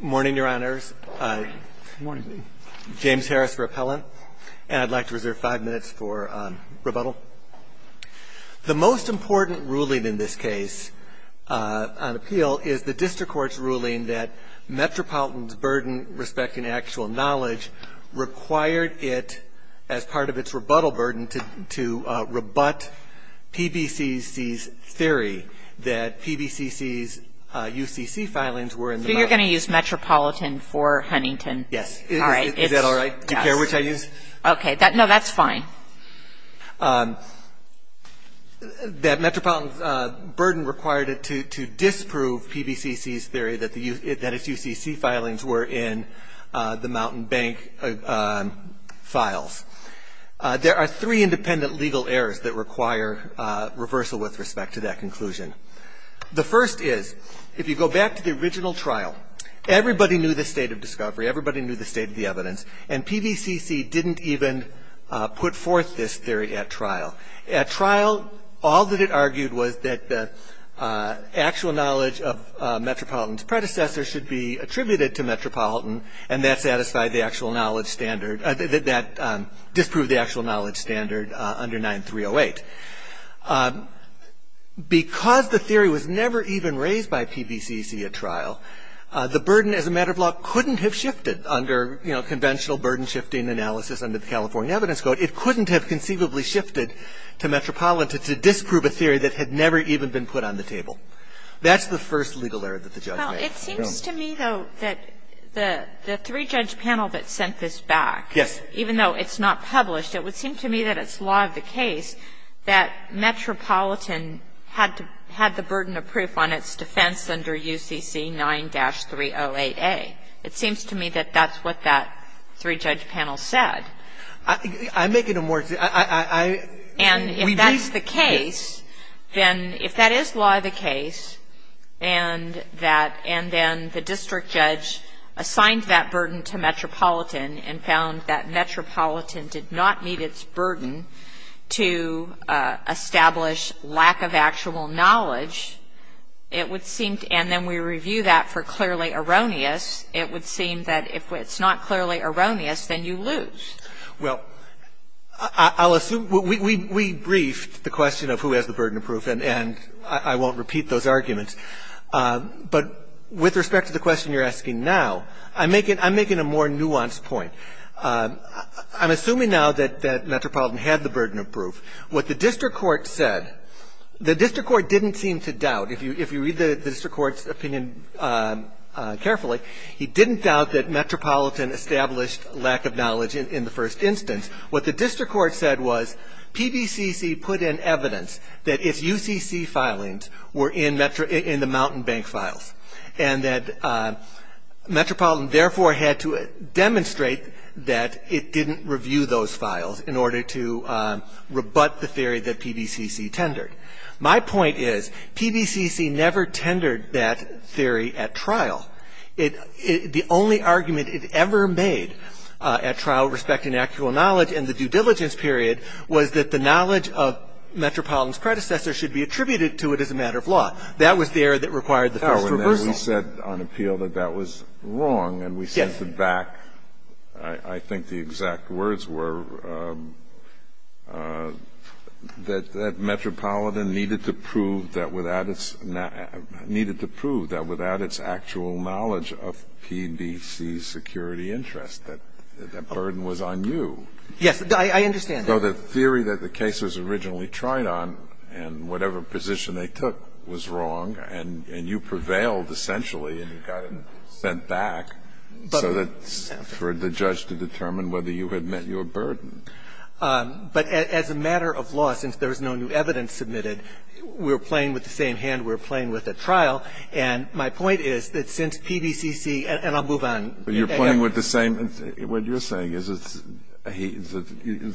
morning your honors James Harris repellent and I'd like to reserve five minutes for rebuttal the most important ruling in this case on appeal is the district court's ruling that Metropolitan's burden respecting actual knowledge required it as part of its rebuttal burden to rebut PBCC's theory that PBCC's UCC filings were in the you're going to use Metropolitan for Huntington yes all right is that all right which I use okay that no that's fine that Metropolitan's burden required it to disprove PBCC's theory that the use it that it's UCC filings were in the Mountain Bank files there are three the first is if you go back to the original trial everybody knew the state of discovery everybody knew the state of the evidence and PVCC didn't even put forth this theory at trial at trial all that it argued was that the actual knowledge of Metropolitan's predecessor should be attributed to Metropolitan and that satisfied the actual knowledge standard that disproved the actual knowledge standard under 9308 because the theory was never even raised by PBCC at trial the burden as a matter of law couldn't have shifted under you know conventional burden shifting analysis under the California evidence code it couldn't have conceivably shifted to Metropolitan to disprove a theory that had never even been put on the table that's the first legal error that the judge it seems to me though that the three judge panel that sent this back yes even though it's not published it would seem to me that it's law of the case that Metropolitan had to had the burden of proof on its defense under UCC 9-308 a it seems to me that that's what that three judge panel said I'm making a more and if that's the case then if that is law the case and that and then the district judge assigned that burden to Metropolitan and found that Metropolitan did not meet its burden to establish lack of actual knowledge it would seem to and then we review that for clearly erroneous it would seem that if it's not clearly erroneous then you lose well I'll assume we briefed the question of who has the burden of proof and and I won't repeat those arguments but with respect to the question you're asking now I'm making I'm making a more nuanced point I'm assuming now that that Metropolitan had the burden of proof what the district court said the district court didn't seem to doubt if you if you read the district court's opinion carefully he didn't doubt that Metropolitan established lack of knowledge in the first instance what the district court said was PBCC put in evidence that if UCC filings were in Metro in the Mountain Bank files and that Metropolitan therefore had to demonstrate that it didn't review those files in order to rebut the theory that PBCC tendered my point is PBCC never tendered that theory at trial it the only argument it ever made at trial respecting actual knowledge and the due diligence period was that the knowledge of Metropolitan's matter of law that was there that required the first reversal we said on appeal that that was wrong and we sent it back I think the exact words were that that Metropolitan needed to prove that without its needed to prove that without its actual knowledge of PBC security interest that that burden was on you yes I understand so the theory that the cases originally tried on and whatever position they took was wrong and you prevailed essentially and you got it sent back so that's for the judge to determine whether you had met your burden but as a matter of law since there's no new evidence submitted we're playing with the same hand we're playing with a trial and my point is that since PBCC and I'll move on you're playing with the same what you're saying is it's he's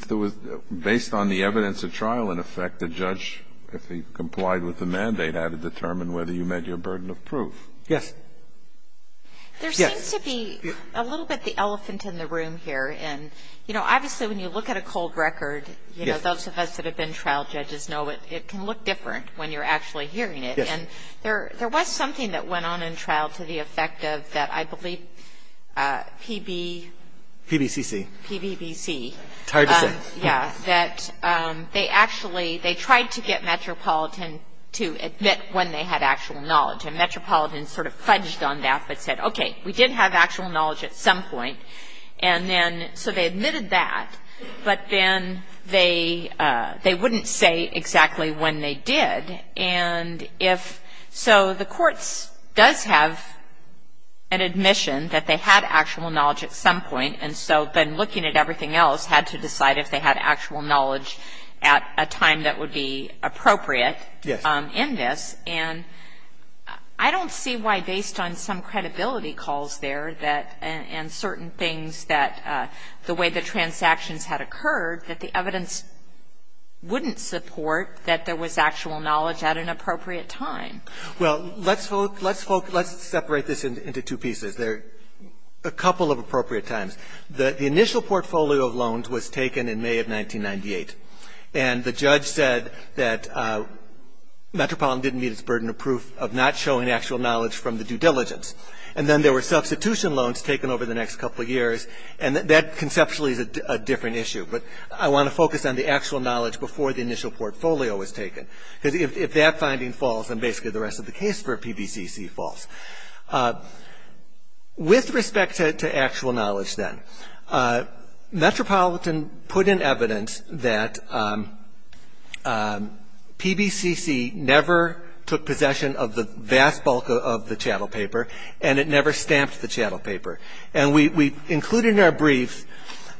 there was based on the evidence there was a trial in effect the judge if he complied with the mandate had to determine whether you met your burden of proof yes there seems to be a little bit the elephant in the room here and you know obviously when you look at a cold record you know those of us that have been trial judges know it it can look different when you're actually hearing it and there there was something that went on in trial to the effect of that I believe PB PBCC PBBC yeah that they actually they tried to get Metropolitan to admit when they had actual knowledge and Metropolitan sort of fudged on that but said okay we did have actual knowledge at some point and then so they admitted that but then they they wouldn't say exactly when they did and if so the courts does have an admission that they had actual knowledge at some point and so then looking at everything else had to decide if they had actual knowledge at a time that would be appropriate yes in this and I don't see why based on some credibility calls there that and certain things that the way the transactions had occurred that the evidence wouldn't support that there was actual knowledge at an appropriate time well let's vote let's vote let's separate this into two pieces there a couple of appropriate times the initial portfolio of loans was taken in May of 1998 and the judge said that Metropolitan didn't meet its burden of proof of not showing actual knowledge from the due diligence and then there were substitution loans taken over the next couple of years and that conceptually is a different issue but I want to focus on the actual knowledge before the initial portfolio was taken because if that finding falls and basically the rest of the case for PBCC falls with respect to actual knowledge then Metropolitan put in evidence that PBCC never took possession of the vast bulk of the chattel paper and it never stamped the chattel paper and we included in our brief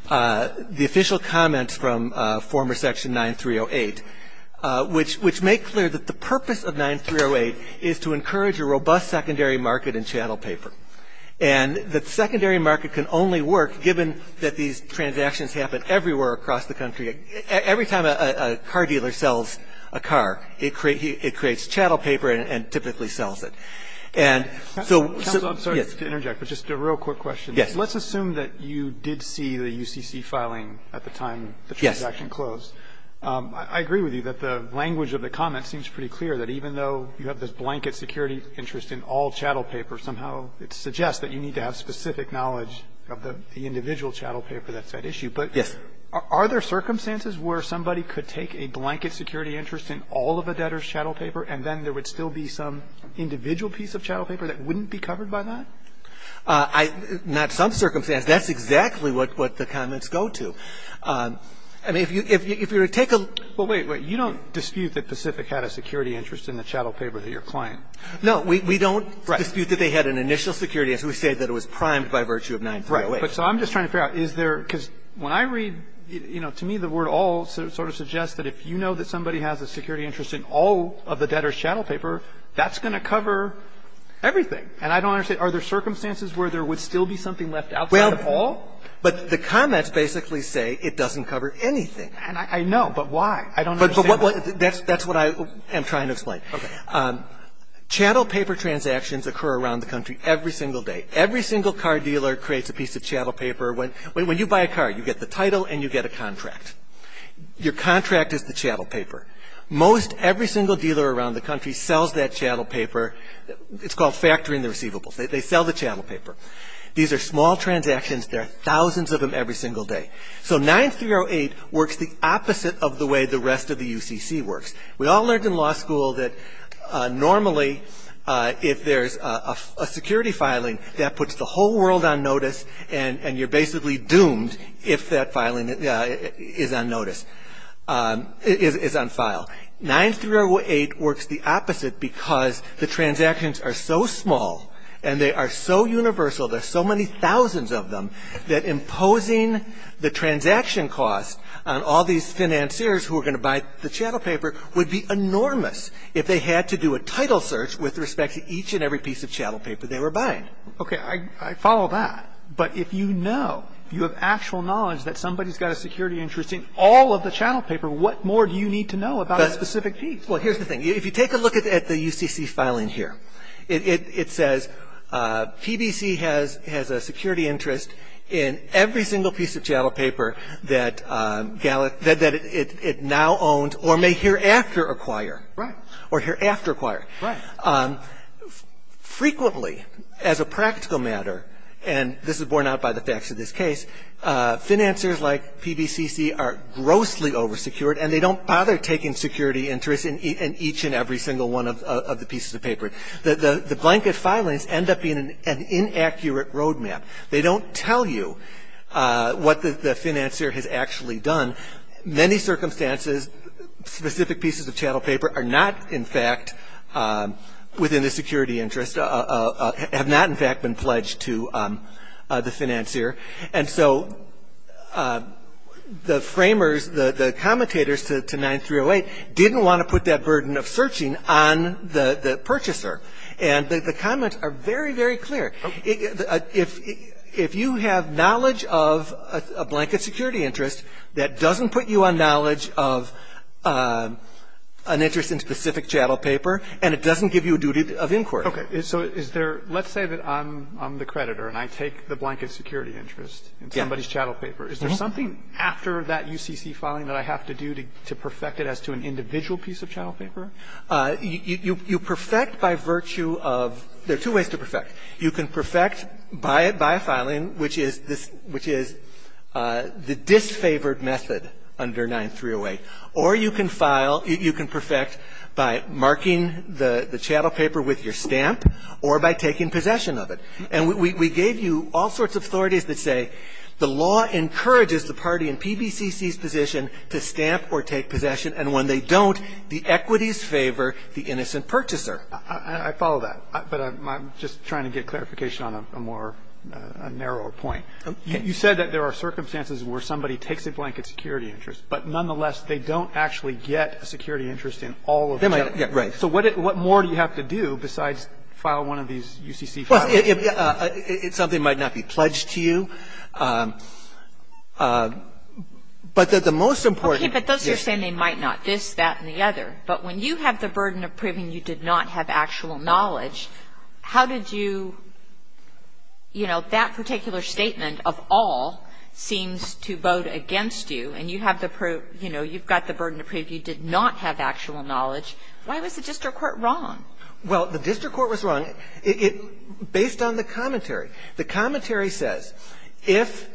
the official comments from former section 9308 which make clear that the purpose of 9308 is to encourage a robust secondary market in chattel paper and that secondary market can only work given that these transactions happen everywhere across the country every time a car dealer sells a car it creates chattel paper and typically sells it and so I'm sorry to interject but just a real quick question yes let's assume that you did see the UCC filing at the time the transaction closed I agree with you that the language of the comment seems pretty clear that even though you have this blanket security interest in all chattel paper somehow it suggests that you need to have specific knowledge of the individual chattel paper that's that issue but yes are there circumstances where somebody could take a blanket security interest in all of a debtor's chattel paper and then there would still be some individual piece of chattel paper that wouldn't be covered by that I not some circumstance that's exactly what what the comments go to I mean if you if you're a take a well wait wait you don't dispute that Pacific had a security interest in the chattel paper that your client no we don't dispute that they had an initial security as we say that it was primed by virtue of 9308 but so I'm just trying to figure out is there because when I read you know to me the word all sort of suggests that if you know that somebody has a security interest in all of the debtor's chattel paper that's going to cover everything and I don't understand are there circumstances where there would still be something left out well all but the comments basically say it doesn't cover anything and I know but why I don't but what that's that's what I am trying to explain okay chattel paper transactions occur around the country every single day every single car dealer creates a piece of chattel paper when when you buy a car you get the title and you get a contract your contract is the chattel paper most every single dealer around the country sells that chattel paper it's called factoring the receivables they sell the chattel paper these are small transactions there are every single day so 9308 works the opposite of the way the rest of the UCC works we all learned in law school that normally if there's a security filing that puts the whole world on notice and and you're basically doomed if that filing is on notice is on file 9308 works the opposite because the transactions are so small and they are so universal there's so many thousands of them that imposing the transaction cost on all these financiers who are going to buy the chattel paper would be enormous if they had to do a title search with respect to each and every piece of chattel paper they were buying okay I follow that but if you know you have actual knowledge that somebody's got a security interest in all of the chattel paper what more do you need to know about a specific piece well here's the thing if you take a look at the UCC filing here it says PBC has has a security interest in every single piece of chattel paper that Gallup said that it now owned or may hereafter acquire right or hereafter acquire right frequently as a practical matter and this is borne out by the facts of this case financiers like PBCC are grossly over secured and they don't bother taking security interest in each and every single one of the pieces of paper that the the blanket filings end up being an inaccurate roadmap they don't tell you what the financier has actually done many circumstances specific pieces of chattel paper are not in fact within the security interest have not in fact been pledged to the financier and so the framers the the commentators to 9308 didn't want to put that burden of searching on the purchaser and the comments are very very clear if if you have knowledge of a blanket security interest that doesn't put you on knowledge of an interest in specific chattel paper and it doesn't give you a duty of inquiry okay so is there let's say that I'm the creditor and I take the blanket security interest in somebody's chattel paper is there something after that UCC filing that I have to do to perfect it as to an individual piece of chattel paper you you you perfect by virtue of there are two ways to perfect you can perfect by it by filing which is this which is the disfavored method under 9308 or you can file you can perfect by marking the the chattel paper with your stamp or by taking possession of it and we gave you all sorts of authorities that say the law encourages the party in PBCC's position to stamp or take possession and when they don't the equities favor the innocent purchaser I follow that but I'm just trying to get clarification on a more narrower point you said that there are circumstances where somebody takes a blanket security interest but nonetheless they don't actually get a security interest in all of them I get right so what it what more do you have to do besides file one of these UCC something might not be pledged to you but that the most important but those are saying they might not this that and the other but when you have the burden of proving you did not have actual knowledge how did you you know that particular statement of all seems to vote against you and you have the proof you know you've got the burden to prove you did not have actual knowledge why was the district based on the commentary the commentary says if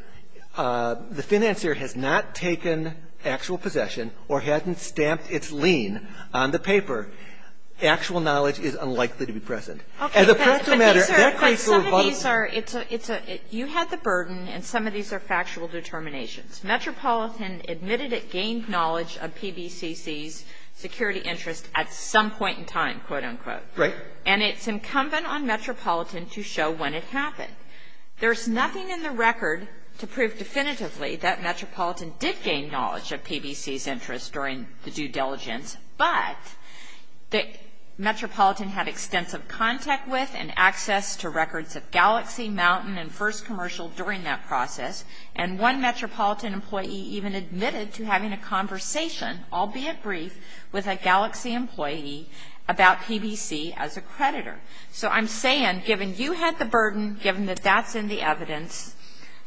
the financier has not taken actual possession or hadn't stamped its lien on the paper actual knowledge is unlikely to be present as a matter it's a it's a you had the burden and some of these are factual determinations Metropolitan admitted it gained knowledge of PBCC's security interest at some point in time quote-unquote right and it's incumbent on Metropolitan to show when it happened there's nothing in the record to prove definitively that Metropolitan did gain knowledge of PBC's interest during the due diligence but the Metropolitan had extensive contact with and access to records of Galaxy Mountain and first commercial during that process and one Metropolitan employee even admitted to having a conversation albeit brief with a Galaxy employee about PBC as a creditor so I'm saying given you had the burden given that that's in the evidence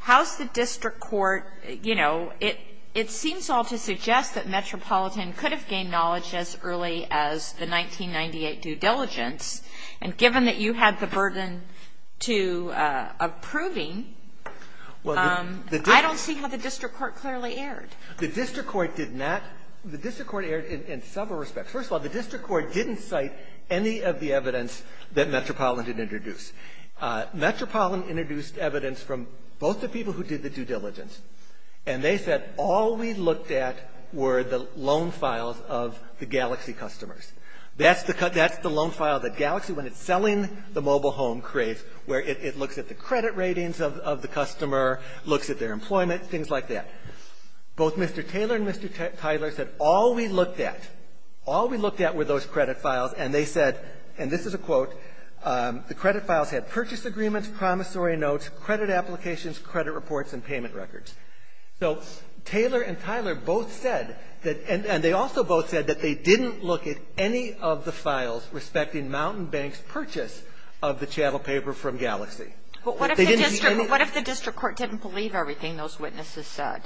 how's the district court you know it it seems all to suggest that Metropolitan could have gained knowledge as early as the 1998 due diligence and given that you had the burden to approving well I don't see how the district court in several respects first of all the district court didn't cite any of the evidence that Metropolitan introduced Metropolitan introduced evidence from both the people who did the due diligence and they said all we looked at were the loan files of the Galaxy customers that's the cut that's the loan file that Galaxy when it's selling the mobile home creates where it looks at the credit ratings of the customer looks at their employment things like that both Mr. Taylor and Mr. Tyler said all we looked at all we looked at were those credit files and they said and this is a quote the credit files had purchase agreements promissory notes credit applications credit reports and payment records so Taylor and Tyler both said that and they also both said that they didn't look at any of the files respecting Mountain Bank's purchase of the chattel paper from Galaxy. What if the district court didn't believe everything those witnesses said?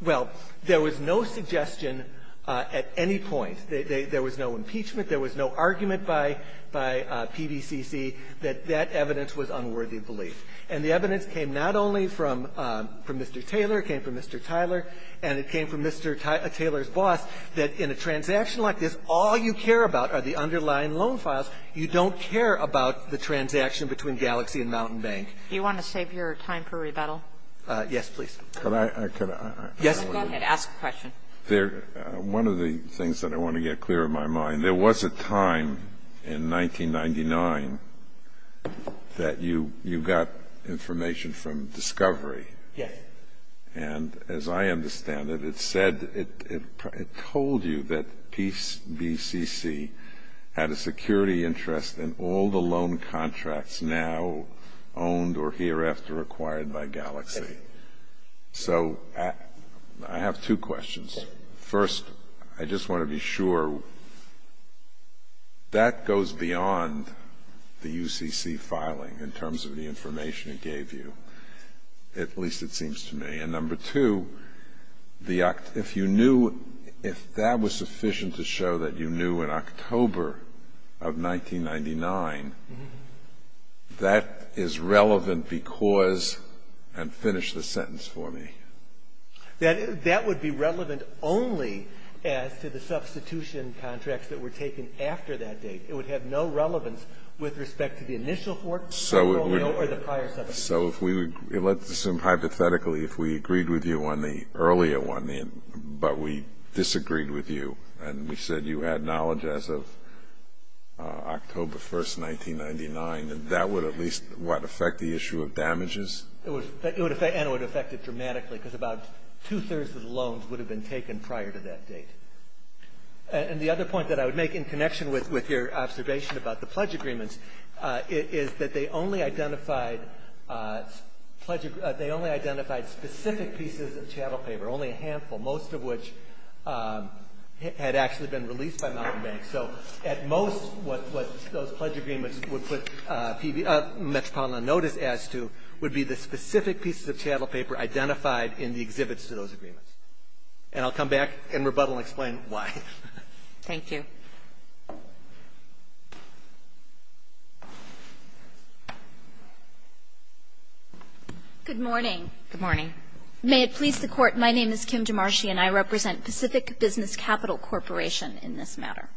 Well there was no suggestion at any point there was no impeachment there was no argument by by PVCC that that evidence was unworthy of belief and the evidence came not only from from Mr. Taylor it came from Mr. Tyler and it came from Mr. Taylor's boss that in a transaction like this all you care about are the underlying loan files you don't care about the transaction between Galaxy and Mountain Bank you want to save your time for rebuttal yes please can I ask a question there one of the things that I want to get clear in my mind there was a time in 1999 that you you got information from discovery and as I understand it it said it told you that PCC had a security interest in all the loan contracts now owned or hereafter acquired by Galaxy so I have two questions first I just want to be sure that goes beyond the UCC filing in terms of the information it gave you at least it seems to me and number two the act if you knew if that was sufficient to show that you knew in October of 1999 that is relevant because and finish the sentence for me that that would be relevant only as to the substitution contracts that were taken after that date it would have no relevance with respect to the initial so if we would let's assume hypothetically if we agreed with you on the earlier one in but we disagreed with you and we said you had knowledge as of October 1st 1999 and that would at least what affect the issue of damages it would affect and would affect it dramatically because about two-thirds of the loans would have been taken prior to that date and the other point that I would make in connection with your observation about the pledge agreements is that they only identified they only identified specific pieces of chattel paper only a handful most of which had actually been released by Mountain Bank so at most what those pledge agreements would put Metropolitan notice as to would be the specific pieces of chattel paper identified in the exhibits to those agreements and I'll come back and rebuttal explain why thank you good morning morning may it please the court my name is Kim to Marcia and I represent Pacific Business Capital Corporation in this matter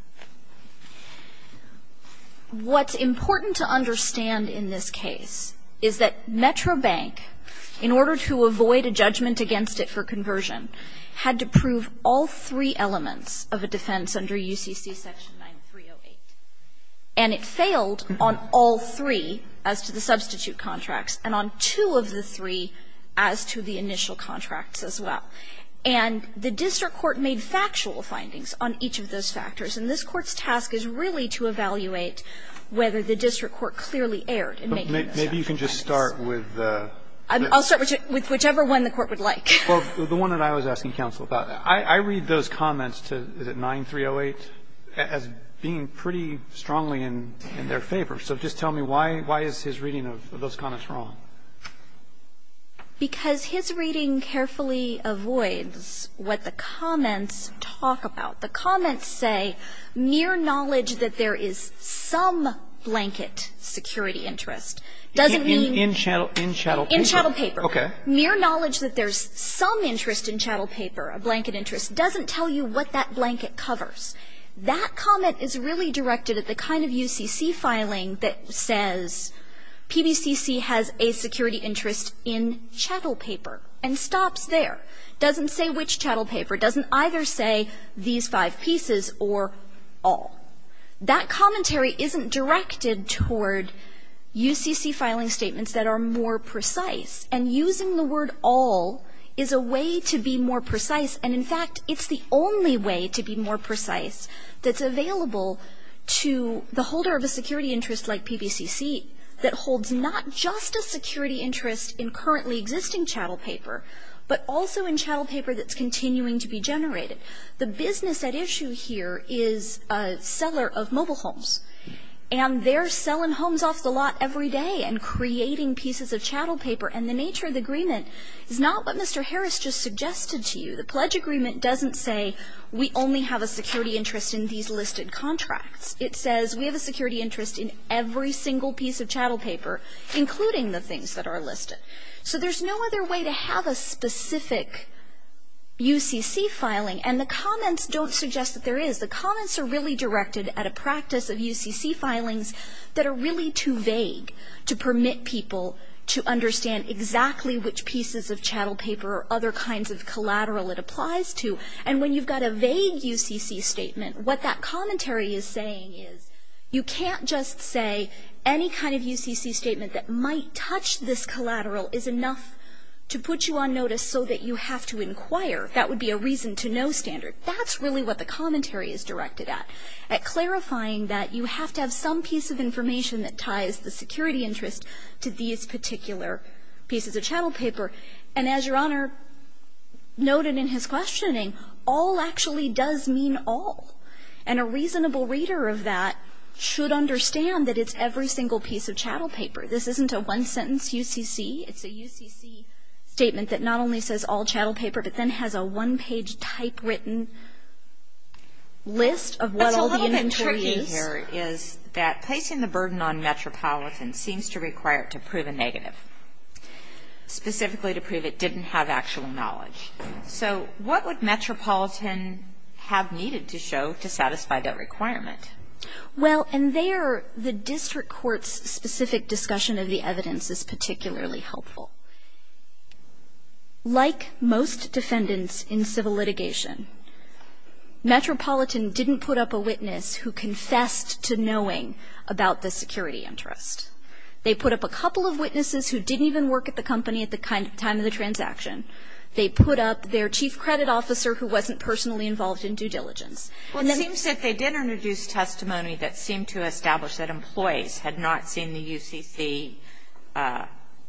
what's important to understand in this case is that Metro Bank in order to avoid a judgment against it for conversion had to prove all three elements of a defense under UCC section 9308 and it failed on all three as to the substitute contracts and on two of the three as to the initial contracts as well and the district court made factual findings on each of those factors in this court's task is really to evaluate whether the district court clearly aired and maybe you can just start with I'll start with whichever one the court would like the one that I was asking counsel about I read those comments to the 9308 as being pretty strongly in their favor so just tell me why why is his reading of those comments wrong because his reading carefully avoids what the comments talk about the comments say mere knowledge that there is some blanket security interest doesn't mean in channel in shuttle in shuttle paper okay mere knowledge that there's some interest in chattel paper a blanket interest doesn't tell you what that blanket covers that comment is really directed at the kind of UCC filing that says PBCC has a security interest in chattel paper and stops there doesn't say which chattel paper doesn't either say these five pieces or all that commentary isn't directed toward UCC filing statements that are more precise and using the word all is a way to be more precise and in fact it's the only way to be more precise that's available to the holder of a security interest like PBCC that holds not just a security interest in currently existing chattel paper but also in chattel paper that's continuing to be generated the business at issue here is a seller of mobile homes and they're selling homes off the lot every day and creating pieces of chattel paper and the nature of the agreement is not what Mr. Harris just suggested to you the pledge agreement doesn't say we only have a security interest in these listed contracts it says we have a security interest in every single piece of chattel paper including the things that are listed so there's no other way to have a specific UCC filing and the comments don't suggest that there is the comments are really directed at a practice of UCC filings that are really too vague to permit people to understand exactly which pieces of chattel paper or other kinds of collateral it applies to and when you've got a vague UCC statement what that commentary is saying is you can't just say any kind of UCC statement that might touch this collateral is enough to put you on notice so that you have to inquire that would be a reason to know standard that's really what the commentary is directed at at clarifying that you have to have some piece of information that ties the security interest to these particular pieces of chattel paper and as your honor noted in his questioning all actually does mean all and a reasonable reader of that should understand that it's every single piece of chattel paper this isn't a one sentence UCC it's a UCC statement that not only says all chattel paper but then has a one page type written list of what all the inventory is. It's a little bit tricky here is that placing the burden on Metropolitan seems to require it to prove a negative specifically to prove it didn't have actual knowledge so what would Well and there the district court's specific discussion of the evidence is particularly helpful like most defendants in civil litigation Metropolitan didn't put up a witness who confessed to knowing about the security interest they put up a couple of witnesses who didn't even work at the company at the time of the transaction they put up their chief credit officer who wasn't personally involved in due diligence. It seems that they did introduce testimony that seemed to establish that employees had not seen the UCC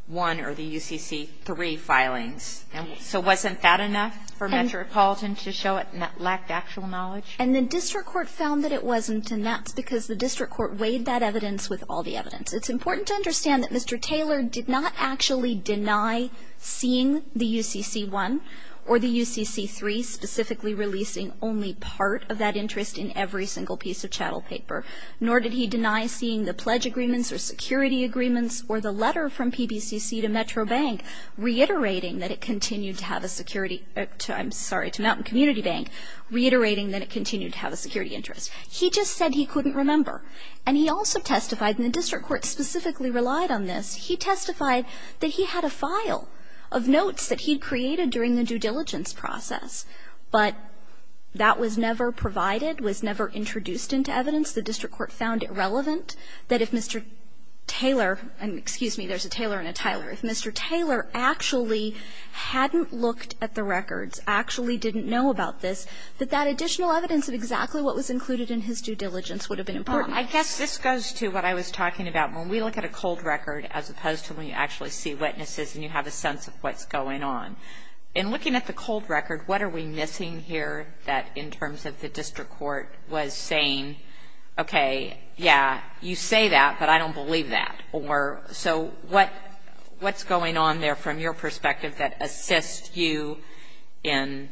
1 or the UCC 3 filings so wasn't that enough for Metropolitan to show it lacked actual knowledge? And the district court found that it wasn't and that's because the district court weighed that evidence with all the evidence it's important to understand that Mr. Taylor did not actually deny seeing the UCC 1 or the UCC 3 specifically releasing only part of that interest in every single piece of chattel paper nor did he deny seeing the pledge agreements or security agreements or the letter from PBCC to Metro Bank reiterating that it continued to have a security I'm sorry to Mountain Community Bank reiterating that it continued to have a security interest. He just said he couldn't remember and he also testified in the district court specifically relied on this he testified that he had a file of notes that he created during the due diligence process but that was never provided was never introduced into evidence the district court found it relevant that if Mr. Taylor and excuse me there's a Taylor and a Tyler if Mr. Taylor actually hadn't looked at the records actually didn't know about this that that additional evidence of exactly what was included in his due diligence would have been important. I guess this goes to what I was talking about when we look at a cold record as opposed to when you actually see witnesses and you have a sense of what's going on in looking at the cold record what are we missing here that in terms of the district court was saying OK yeah you say that but I don't believe that or so what what's going on there from your perspective that assists you in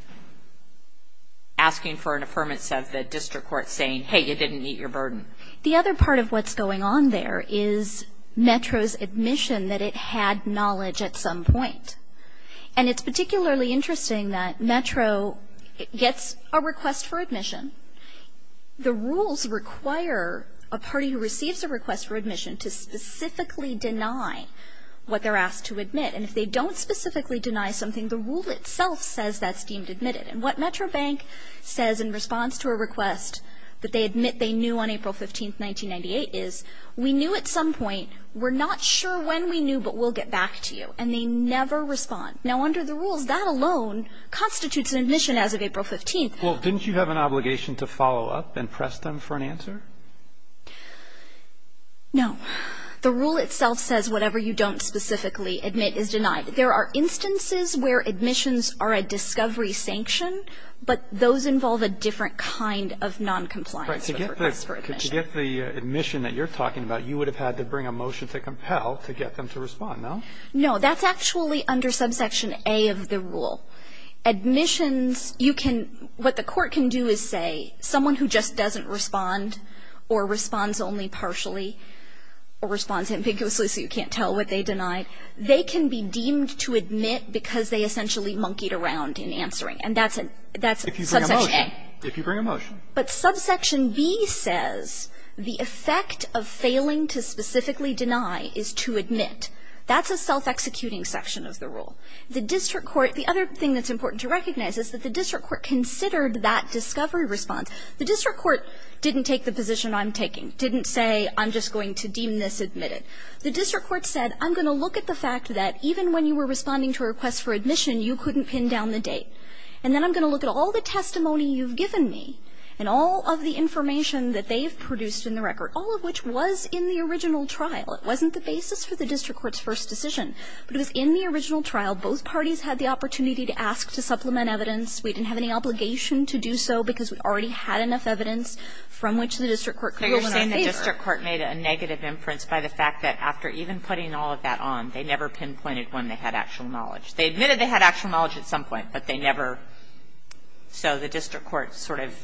asking for an affirmance of the district court saying hey you didn't eat your burden the other part of what's going on there is Metro's admission that it had knowledge at some point and it's particularly interesting that Metro gets a request for admission the rules require a party who receives a request for admission to specifically deny what they're asked to admit and if they don't specifically deny something the rule itself says that's deemed admitted and what Metro bank says in response to a request that they admit they knew on April 15th 1998 is we knew at some point we're not sure when we knew but we'll get back to you and they never respond now under the rules that alone constitutes an admission as of April 15th well didn't you have an obligation to follow up and press them for an answer no the rule itself says whatever you don't specifically admit is denied there are those involve a different kind of non-compliance to get the admission that you're talking about you would have had to bring a motion to compel to get them to respond no no that's actually under subsection a of the rule admissions you can what the court can do is say someone who just doesn't respond or responds only partially or responds ambiguously so you can't tell what they denied they can be deemed to admit because they essentially monkeyed around in answering and that's it that's if you bring a motion but subsection B says the effect of failing to specifically deny is to admit that's a self-executing section of the rule the district court the other thing that's important to recognize is that the district court considered that discovery response the district court didn't take the position I'm taking didn't say I'm just going to deem this admitted the district court said I'm gonna look at the fact that even when you were responding to a request for admission you couldn't pin down the date and then I'm gonna look at all the testimony you've given me and all of the information that they've produced in the record all of which was in the original trial it wasn't the basis for the district court's first decision but it was in the original trial both parties had the opportunity to ask to supplement evidence we didn't have any obligation to do so because we already had enough evidence from which the district court court made a negative inference by the fact that after even putting all of that on they never pinpointed when they had actual knowledge they admitted they had actual knowledge at some point but they never so the district court sort of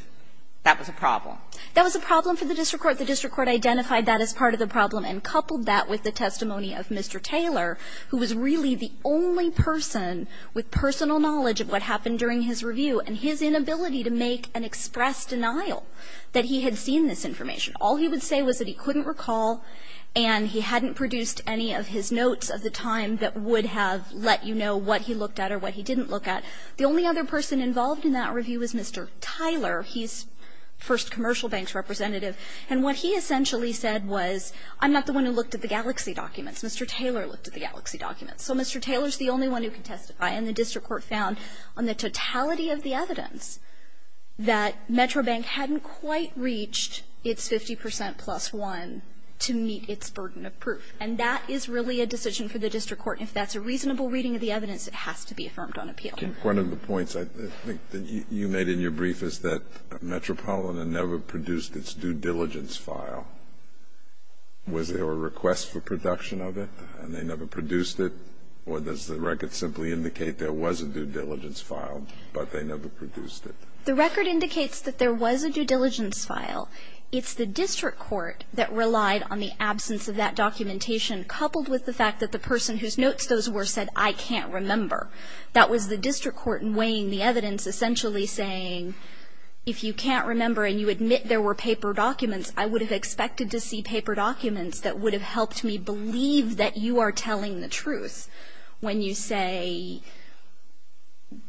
that was a problem that was a problem for the district court the district court identified that as part of the problem and coupled that with the testimony of Mr. Taylor who was really the only person with personal knowledge of what happened during his review and his inability to make an express denial that he had seen this information all he would say was that he couldn't recall and he hadn't produced any of his notes of the time that would have let you know what he looked at or what he didn't look at the only other person involved in that review is Mr. Tyler he's first commercial banks representative and what he essentially said was I'm not the one who looked at the galaxy documents Mr. Taylor looked at the galaxy documents so Mr. Taylor's the only one who can testify and the district court found on the totality of the evidence that Metro Bank hadn't quite reached its 50% plus one to meet its burden of proof and that is really a decision for the district court and if that's a reasonable reading of the evidence it has to be affirmed on appeal one of the points I think that you made in your brief is that Metropolitan never produced its due diligence file was there a request for production of it and they never produced it or does the record simply indicate there was a due diligence file but they never produced it the record indicates that there was a due diligence file it's the district court that relied on the documentation coupled with the fact that the person whose notes those were said I can't remember that was the district court in weighing the evidence essentially saying if you can't remember and you admit there were paper documents I would have expected to see paper documents that would have helped me believe that you are telling the truth when you say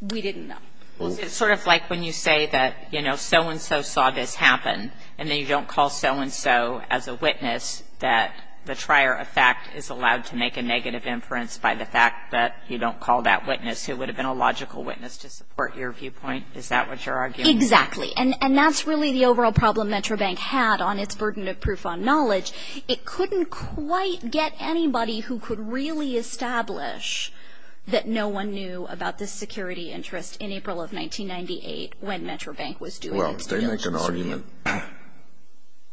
we didn't know well it's sort of like when you say that you know so-and-so saw this happen and then you don't call so-and-so as a witness that the trier of fact is allowed to make a negative inference by the fact that you don't call that witness who would have been a logical witness to support your viewpoint is that what you're arguing exactly and and that's really the overall problem Metrobank had on its burden of proof on knowledge it couldn't quite get anybody who could really establish that no one knew about this security interest in April of 1998 when Metrobank was doing well if they make an argument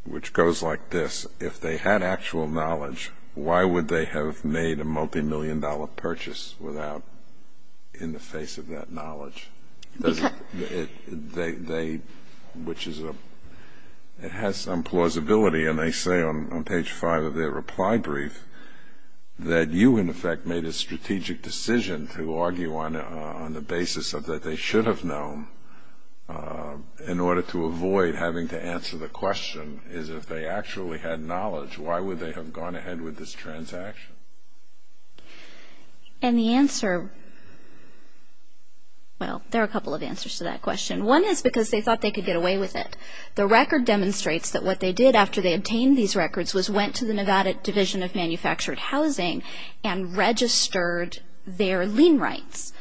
which goes like this if they had actual knowledge why would they have made a multi-million dollar purchase without in the face of that knowledge because they they which is a it has some plausibility and they say on page five of their reply brief that you in effect made a strategic decision to argue on on the basis of that they should have known in order to avoid having to answer the question is if they actually had knowledge why would they have gone ahead with this transaction and the answer well there are a couple of answers to that question one is because they thought they could get away with it the record demonstrates that what they did after they obtained these records was went to the Nevada Division of Manufactured Housing and registered their lien rights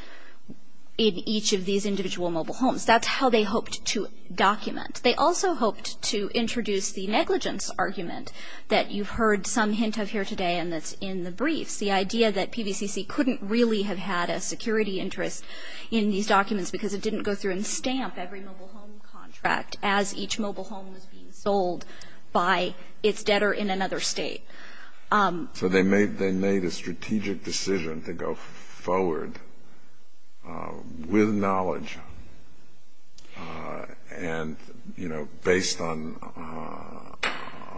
in each of these individual mobile homes that's how they hoped to document they also hoped to introduce the negligence argument that you've heard some hint of here today and that's in the briefs the idea that PVCC couldn't really have had a security interest in these documents because it didn't go through and stamp every mobile home contract as each mobile home was being sold by its debtor in another state so they made they made a strategic decision to go forward with knowledge and you know based on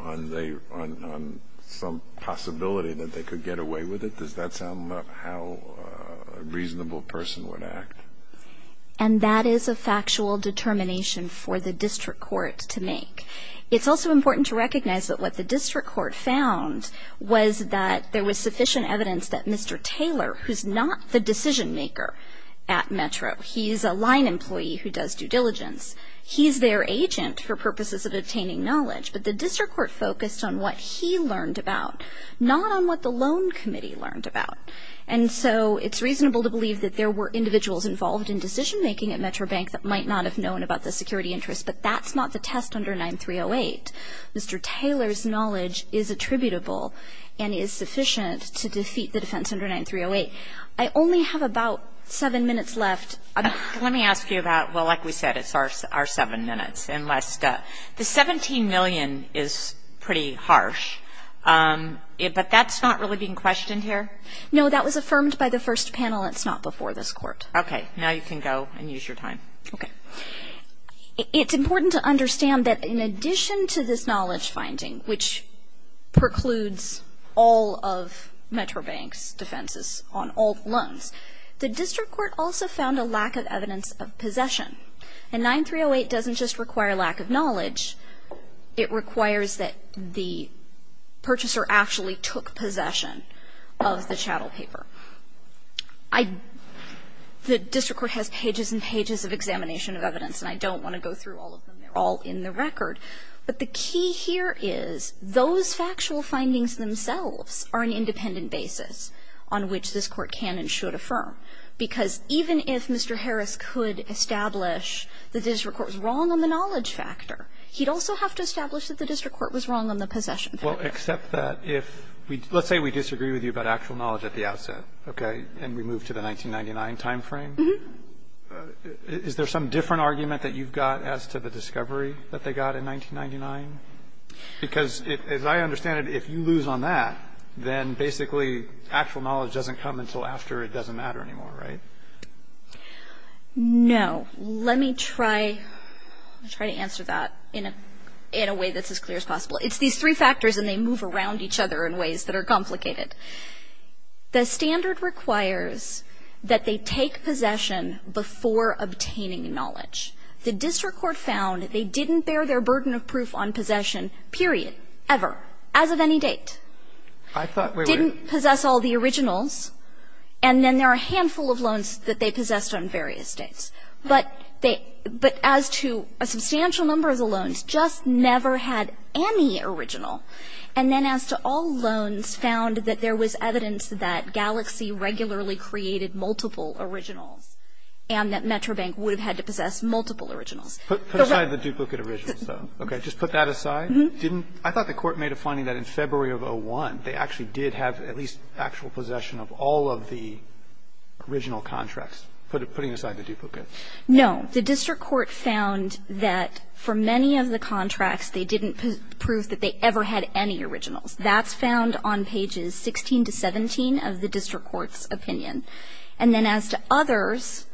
on they on on some possibility that they could get away with it does that sound like how a reasonable person would act and that is a factual determination for the district court to make it's also important to recognize that what the district court found was that there was sufficient evidence that Mr. Taylor who's not the decision maker at Metro he's a line employee who does due diligence he's their agent for purposes of obtaining knowledge but the district court focused on what he learned about not on what the loan committee learned about and so it's reasonable to believe that there were individuals involved in decision making at Metro Bank that might not have known about the security interest but that's not the test under 9308 Mr. Taylor's knowledge is attributable and is sufficient to defeat the defense under 9308 I only have about seven minutes left let me ask you about well like we said it's our our seven minutes unless the 17 million is pretty harsh it but that's not really being questioned here no that was affirmed by the first panel it's not before this court okay now you can go and use your time okay it's important to understand that in addition to this knowledge finding which precludes all of Metro Banks defenses on all loans the district court also found a lack of evidence of possession and 9308 doesn't just require lack of knowledge it requires that the purchaser actually took possession of the chattel paper I the district court has pages and pages of examination of evidence and I don't want to go through all of them they're all in the record but the key here is those factual findings themselves are an independent basis on which this court can and should affirm because even if Mr. Harris could establish the district court was wrong on the knowledge factor he'd also have to establish that the district court was wrong on the possession well except that if we let's say we disagree with you about actual knowledge at the outset okay and we move to the 1999 time frame is there some different argument that you've got as to the discovery that they got in 1999 because if I understand it if you lose on that then basically actual knowledge doesn't come until after it doesn't matter anymore right no let me try try to answer that in a in a way that's as clear as possible it's these three I thought we didn't possess all the originals and then there are a handful of loans that they possessed on various dates but they but as to a substantial number of the loans just never had any original and then as to all loans found that there was evidence that galaxy regularly created multiple originals and that Metrobank would have had to possess multiple originals put aside the duplicate original so okay just put that aside didn't I thought the court made a finding that in February of a one they actually did have at least actual possession of all of the original contracts put it putting aside the duplicate no the district court found that for many of the contracts they didn't prove that they ever had any originals that's found on pages 16 to 17 of the district court's opinion and then as to others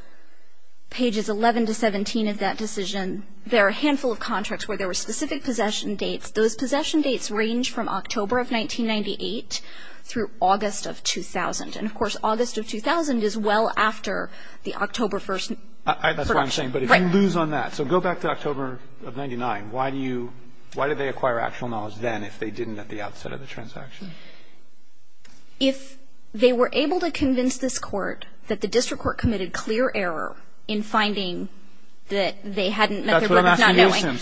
pages 11 to 17 of that decision there are a handful of contracts where there were specific possession dates those possession dates range from October of 1998 through August of 2000 and of course August of 2000 is well after the October 1st I that's what I'm saying but if I lose on that so go back to October of 99 why do you why do they acquire actual knowledge then if they didn't at the outset of the transaction if they were able to convince this court that the district court committed clear error in finding that they hadn't met their brother's not knowing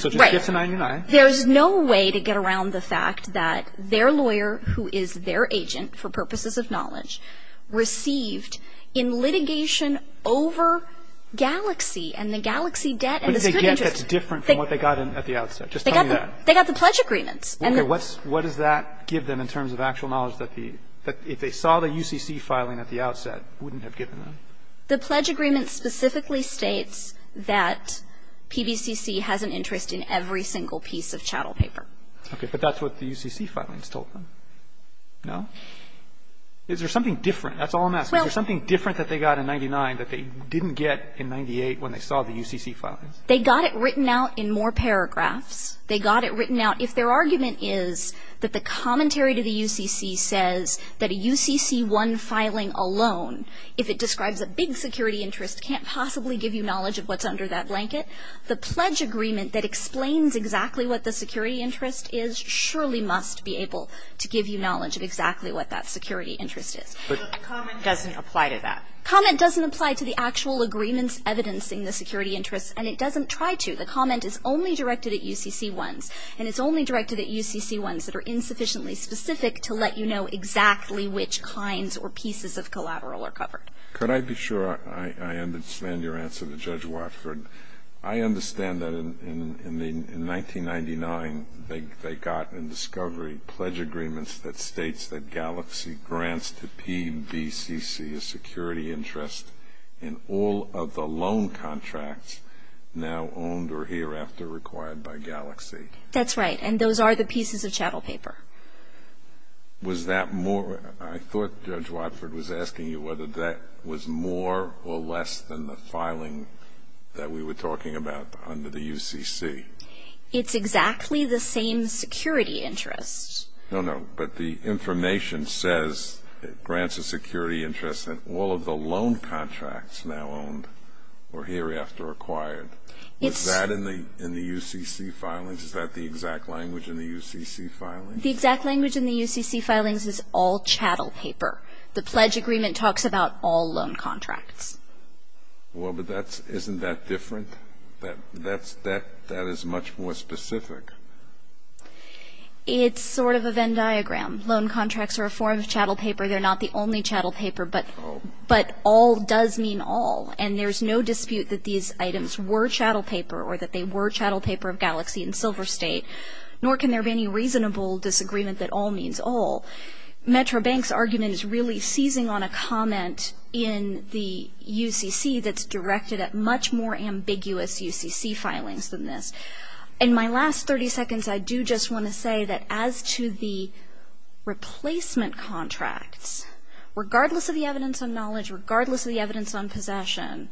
right there's no way to get around the fact that their lawyer who is their agent for purposes of knowledge received in litigation over galaxy and the galaxy debt and again that's different from what they got in at the outset just they got they got the pledge agreements and what's what does that give them in terms of actual knowledge that the that if they saw the UCC filing at the outset wouldn't have given them the pledge agreement specifically states that pbcc has an interest in every single piece of chattel paper okay but that's what the UCC filings told them no is there something different that's all I'm asking there's something different that they got in 99 that they didn't get in 98 when they saw the UCC file they got it written out in more paragraphs they got it written out if their argument is that the commentary to the UCC says that a UCC one filing alone if it describes a big security interest can't possibly give you knowledge of what's under that blanket the pledge agreement that explains exactly what the security interest is surely must be able to give you knowledge of exactly what that security interest is but the comment doesn't apply to that comment doesn't apply to the actual agreements evidencing the security interests and it doesn't try to the comment is only directed at UCC ones and it's only directed at UCC ones that are insufficiently specific to let you know exactly which kinds or pieces of collateral are covered could I be sure I understand your answer to judge Watford I understand that in in in the in 99 they got in discovery pledge agreements that states that galaxy grants to PBCC a security interest in all of the loan contracts now owned or hereafter required by galaxy that's right and those are the pieces of chattel paper was that more I thought judge Watford was asking you whether that was more or less than the filing that we were talking about under the UCC it's exactly the same security interest no no but the information says it grants a security interest in all of the loan contracts now owned or hereafter required it's that in the in the UCC filings is that the exact language in the UCC filing the exact language in the UCC filings is all chattel paper the pledge agreement talks about all loan contracts well but that's isn't that different that that's that that is much more specific it's sort of a Venn diagram loan contracts are a form of chattel paper they're not the only chattel paper but but all does mean all and there's no dispute that these items were chattel paper or that they were chattel paper of galaxy and Silver State nor can there be any reasonable disagreement that all means all Metro banks argument is really seizing on a comment in the UCC that's directed at much more ambiguous UCC filings than this in my last 30 seconds I do just want to say that as to the replacement contracts regardless of the evidence on knowledge regardless of the evidence on possession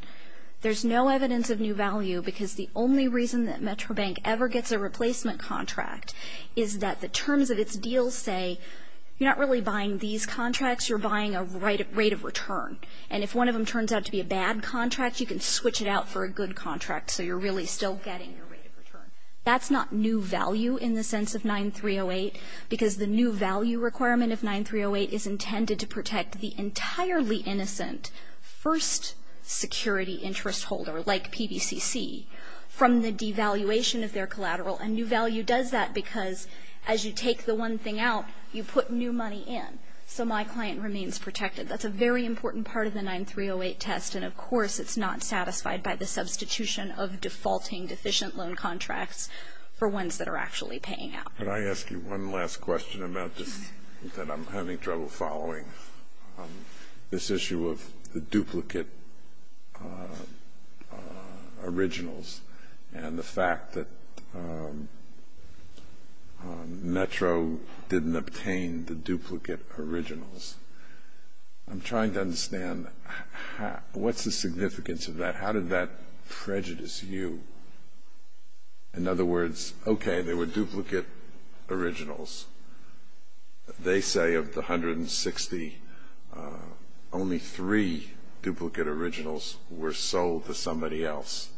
there's no evidence of new value because the only reason that Metro Bank ever gets a replacement contract is that the terms of its deal say you're not really buying these contracts you're buying a right rate of return and if one of them turns out to be a bad contract you can switch it out for a good contract so you're really still getting your rate of return that's not new value in the sense of 9308 because the new value requirement of 9308 is intended to protect the entirely innocent first security interest holder like PBCC from the devaluation of their collateral and new value does that because as you take the one thing out you put new money in so my client remains protected that's a very important part of the 9308 test and of course it's not satisfied by the substitution of defaulting deficient loan contracts for ones that are actually paying out and I ask you one last question about this that I'm having trouble following this issue of the duplicate originals and the fact that the Metro didn't obtain the duplicate originals I'm trying to understand what's the significance of that how did that prejudice you in other words OK they were duplicate originals they say of the hundred and sixty only three duplicate originals were sold to somebody else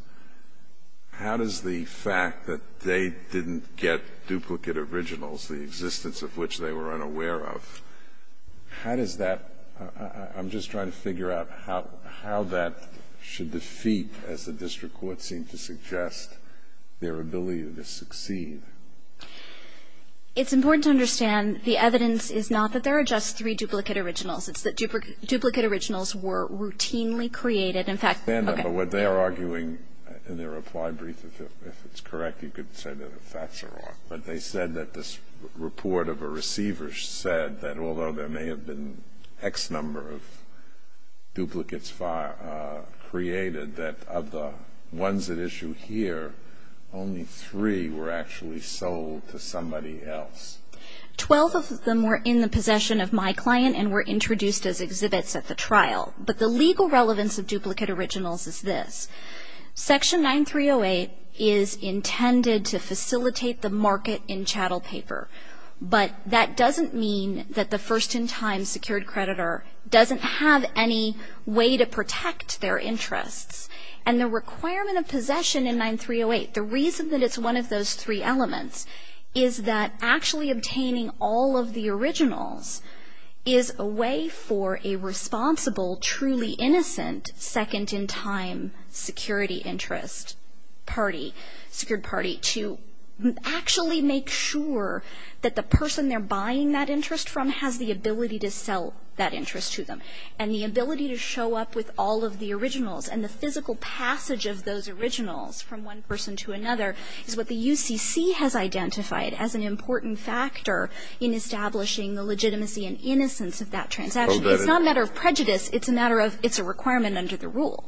how does the fact that they didn't get duplicate originals the existence of which they were unaware of how does that I'm just trying to figure out how how that should defeat as the district court seemed to suggest their ability to succeed it's important to understand the evidence is not that there are just three duplicate originals it's that duplicate originals were routinely created in fact they're arguing in their reply brief if it's correct you could say that the facts are wrong but they said that this report of a receiver said that although there may have been X number of duplicates far created that of the ones that issue here only three were actually sold to somebody else 12 of them were in the possession of my client and were introduced as exhibits at the trial but the legal relevance of duplicate originals is this section 9 3 0 8 is intended to facilitate the market in chattel paper but that doesn't mean that the first in time secured creditor doesn't have any way to protect their interests and the requirement of possession in 9 3 0 8 the reason that it's one of those three elements is that actually obtaining all of the originals is a way for a responsible truly innocent second in time security interest party security party to actually make sure that the person they're buying that interest from has the ability to sell that interest to them and the ability to show up with all of the originals and the physical passage of those originals from one person to another is what the U.C.C. has identified as an important factor in establishing the legitimacy and innocence of that transaction it's not a matter of prejudice it's a matter of it's a requirement under the rule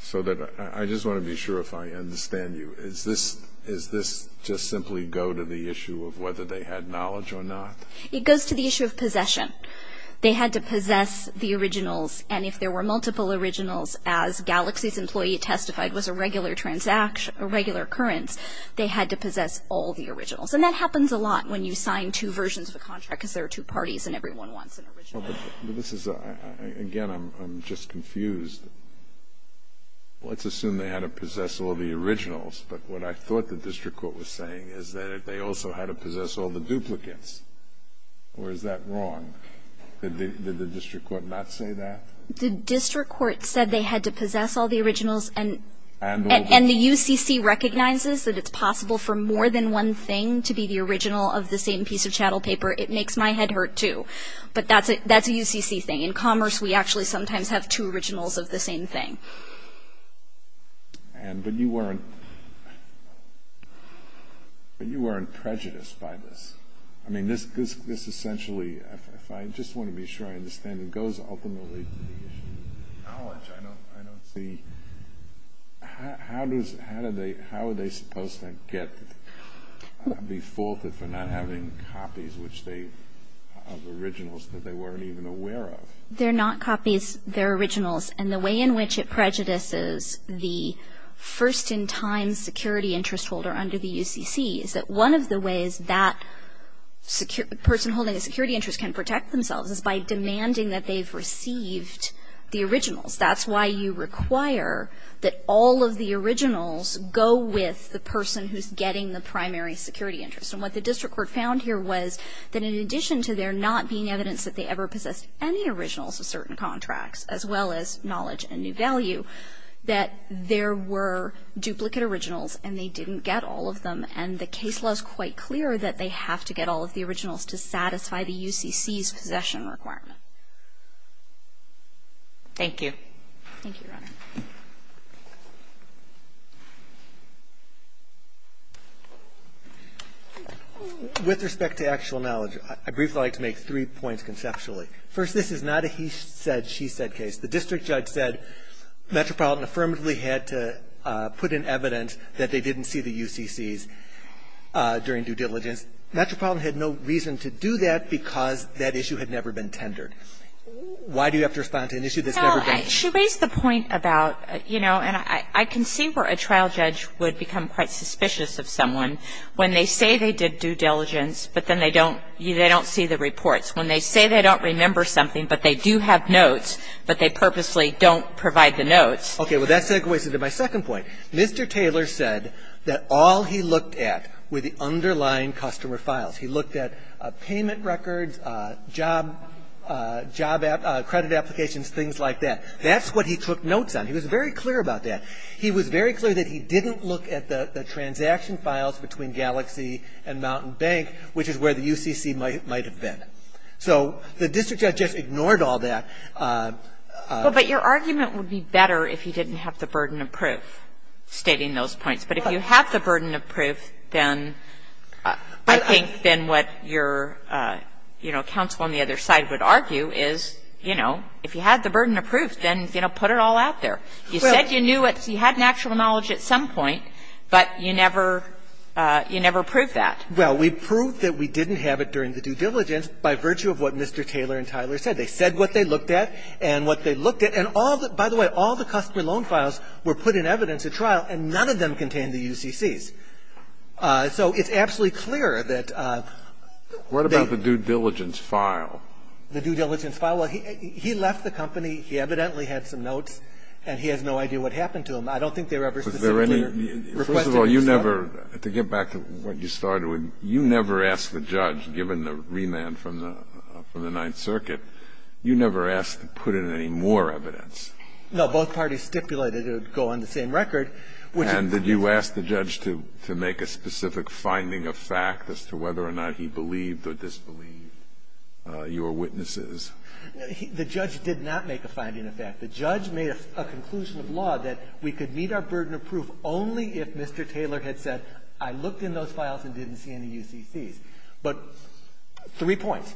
so that I just want to be sure if I understand you is this is this just simply go to the issue of whether they had knowledge or not it goes to the issue of possession they had to possess the originals and if there were multiple originals as galaxy's employee testified was a regular transaction a regular occurrence they had to possess all the originals and that happens a lot when you sign two versions of a contract because there are two parties and everyone wants an original this is a again I'm just confused let's assume they had to possess all the duplicates or is that wrong did the district court not say that the district court said they had to possess all the originals and the U.C.C. recognizes that it's possible for more than one thing to be the original of the same piece of chattel paper it makes my head hurt too but that's a U.C.C. thing in commerce we actually sometimes have two originals of the same thing and but you weren't prejudiced by this I mean this this this essentially if I just want to be sure I understand it goes ultimately to the issue of knowledge I don't I don't see how does how do they how are they supposed to get be faulted for not having copies which they have originals that they weren't even aware of they're not copies their originals and the way in which it prejudices the first in time security interest holder under the U.C.C. is that one of the ways that secure person holding a security interest can protect themselves is by demanding that they've received the originals that's why you require that all of the originals go with the person who's getting the primary security interest and what the district court found here was that in addition to there not being evidence that they ever possessed any originals of certain contracts as well as knowledge and new value that there were duplicate originals and they didn't get all of them and the case was quite clear that they have to get all of the originals to satisfy the U.C.C.'s possession requirement thank you thank you first this is not a he said she said case the district judge said metropolitan affirmatively had to put in evidence that they didn't see the U.C.C.'s during due diligence metropolitan had no reason to do that because that issue had never been tendered why do you have to respond to an issue that's never been she raised the point about you know and I can see where a trial judge would become quite suspicious of someone when they say they did due diligence but then they don't you they don't see the reports when they say they don't remember something but they do have notes but they purposely don't provide the notes okay well that segues into my second point Mr. Taylor said that all he looked at with the underlying customer files he looked at payment records job job at credit applications things like that that's what he took notes on he was very clear about that he was very clear that he didn't look at the transaction files between galaxy and mountain bank which is where the U.C.C. might have been so the district judge just ignored all that but your argument would be better if he didn't have the burden of proof stating those points but if you have the burden of proof then I think then what your you know counsel on the other side would argue is you know if you had the burden of proof then you know put it all out there you said you knew what you had an actual knowledge at some point but you never you never proved that well we proved that we didn't have it during the due diligence by virtue of what Mr. Taylor and Tyler said they said what they looked at and what they looked at and all that by the way all the customer loan files were put in evidence at trial and none of them contained the U.C.C.'s so it's absolutely clear that what the due diligence file the due diligence file he left the company he evidently had some notes and he has no idea what happened to him I don't think they were ever specifically you never to get back to what you started with you never asked the judge given the remand from the from the Ninth Circuit you never asked to put in any more evidence no both parties stipulated it would go on the same record and did you ask the judge to make a specific finding of fact as to whether or not he believed or disbelieved your witnesses the judge did not make a finding of fact the judge made a conclusion of law that we could meet our burden of proof only if Mr. Taylor had said I looked in those files and didn't see any U.C.C.'s but three points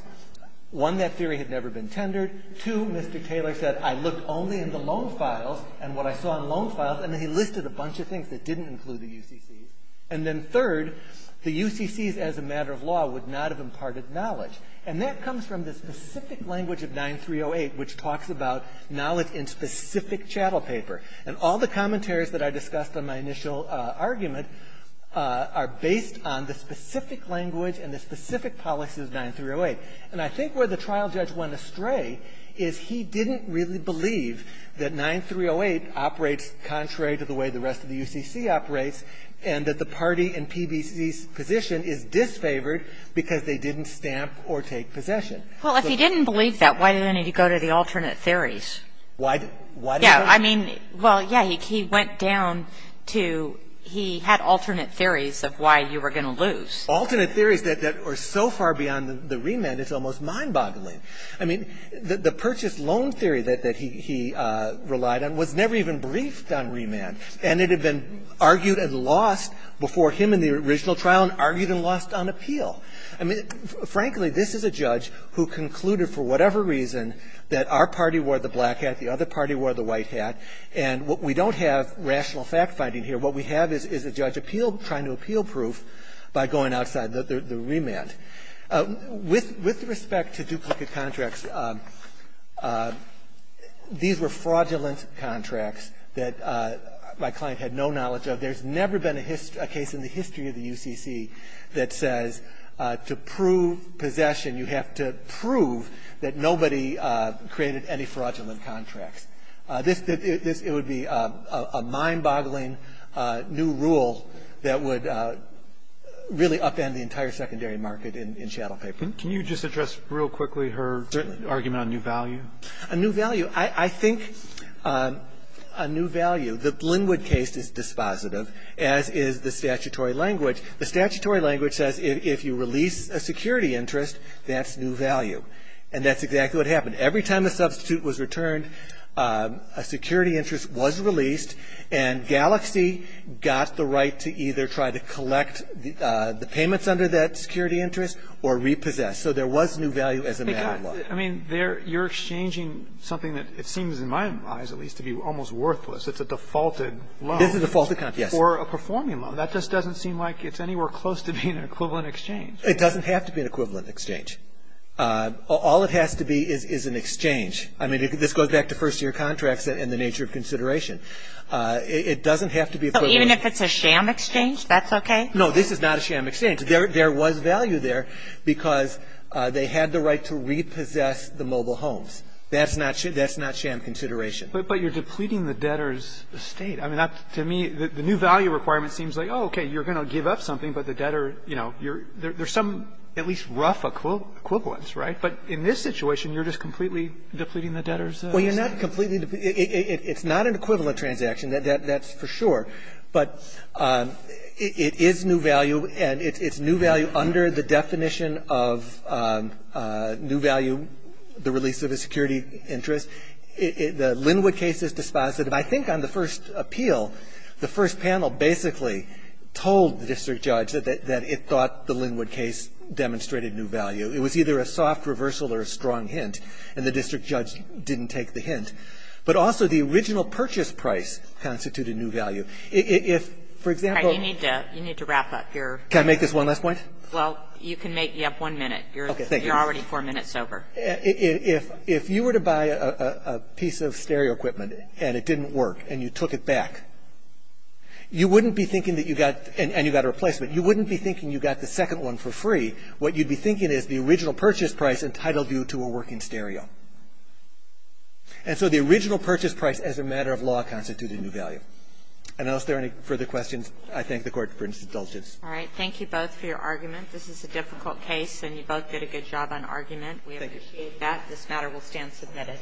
one that theory had never been tendered to Mr. Taylor said I looked only in the loan files and what I saw in loan files and then he listed a bunch of things that didn't include the U.C.C.'s and then third the U.C.C.'s as a matter of law would not have imparted knowledge and that comes from the specific language of 9308 which talks about knowledge in specific chattel paper and all the commentaries that I discussed on my initial argument are based on the specific language and the specific policies of 9308 and I think where the trial judge went astray is he didn't really believe that 9308 operates contrary to the way the rest of the U.C.C. operates and that the party in P.B.C.'s position is disfavored because they didn't stamp or take possession well if he didn't believe that why did he go to the alternate theories why did he go to the alternate theories well yeah he went down to he had alternate theories of why you were going to lose alternate theories that are so far beyond the remand it's almost mind boggling I mean the purchase loan theory that he relied on was never even briefed on remand and it had been argued and lost before him in the original trial and argued and lost on appeal I mean frankly this is a judge who concluded for whatever reason that our party wore the black hat the other party wore the white hat and what we don't have rational fact finding here what we have is a judge appeal trying to appeal proof by going outside the remand with respect to duplicate contracts these were fraudulent contracts that my client had no knowledge of there's never been a history a case in the history of the U.C.C. that says to prove possession you have to prove that nobody created any fraudulent contracts this it would be a mockery of the U.C.C. mind boggling new rule that would really upend the entire secondary market in chattel paper can you just address real quickly her argument on new value a new value I think a new value the Blinwood case is dispositive as is the statutory language the statutory language says if you release a security interest that's new value and that's exactly what happened every time the substitute was returned a security interest was released and galaxy got the right to either try to collect the payments under that security interest or repossess so there was new value as a matter of law I mean there you're exchanging something that it seems in my eyes at least to be almost worthless it's a defaulted this is a false account yes or a performing loan that just doesn't seem like it's anywhere close to being an equivalent exchange it doesn't have to be an equivalent exchange all it has to be is an exchange I mean this goes back to first year contracts and the nature of consideration it doesn't have to be even if it's a sham exchange that's okay no this is not a sham exchange there was value there because they had the right to repossess the mobile homes that's not true that's not sham consideration but you're depleting the debtors estate I mean that to me the new value requirement seems like okay you're going to give up something but the debtor you know you're there's some at least rough equivalence right but in this situation you're just completely depleting the debtors estate well you're not completely it's not an equivalent transaction that's for sure but it is new value and it's new value under the definition of new value the release of a security interest the Linwood case is dispositive I think on the first appeal the first panel basically told the district judge that it thought the Linwood case demonstrated new value it was either a soft reversal or a strong hint and the district judge didn't take the hint but also the original purchase price constituted new value if for example you need to wrap up your can I make this one last point well you can make you up one minute you're already four minutes over if you were to buy a piece of stereo equipment and it didn't work and you took it back you wouldn't be thinking that you got and you got a replacement you wouldn't be thinking you got the second one for free what you'd be thinking is the original purchase price entitled you to a working stereo and so the original purchase price as a matter of law constituted new value and those there any further questions I thank the court for indulgence all right thank you both for your argument this is a difficult case and you both did a good job on argument we appreciate that this matter will stand submitted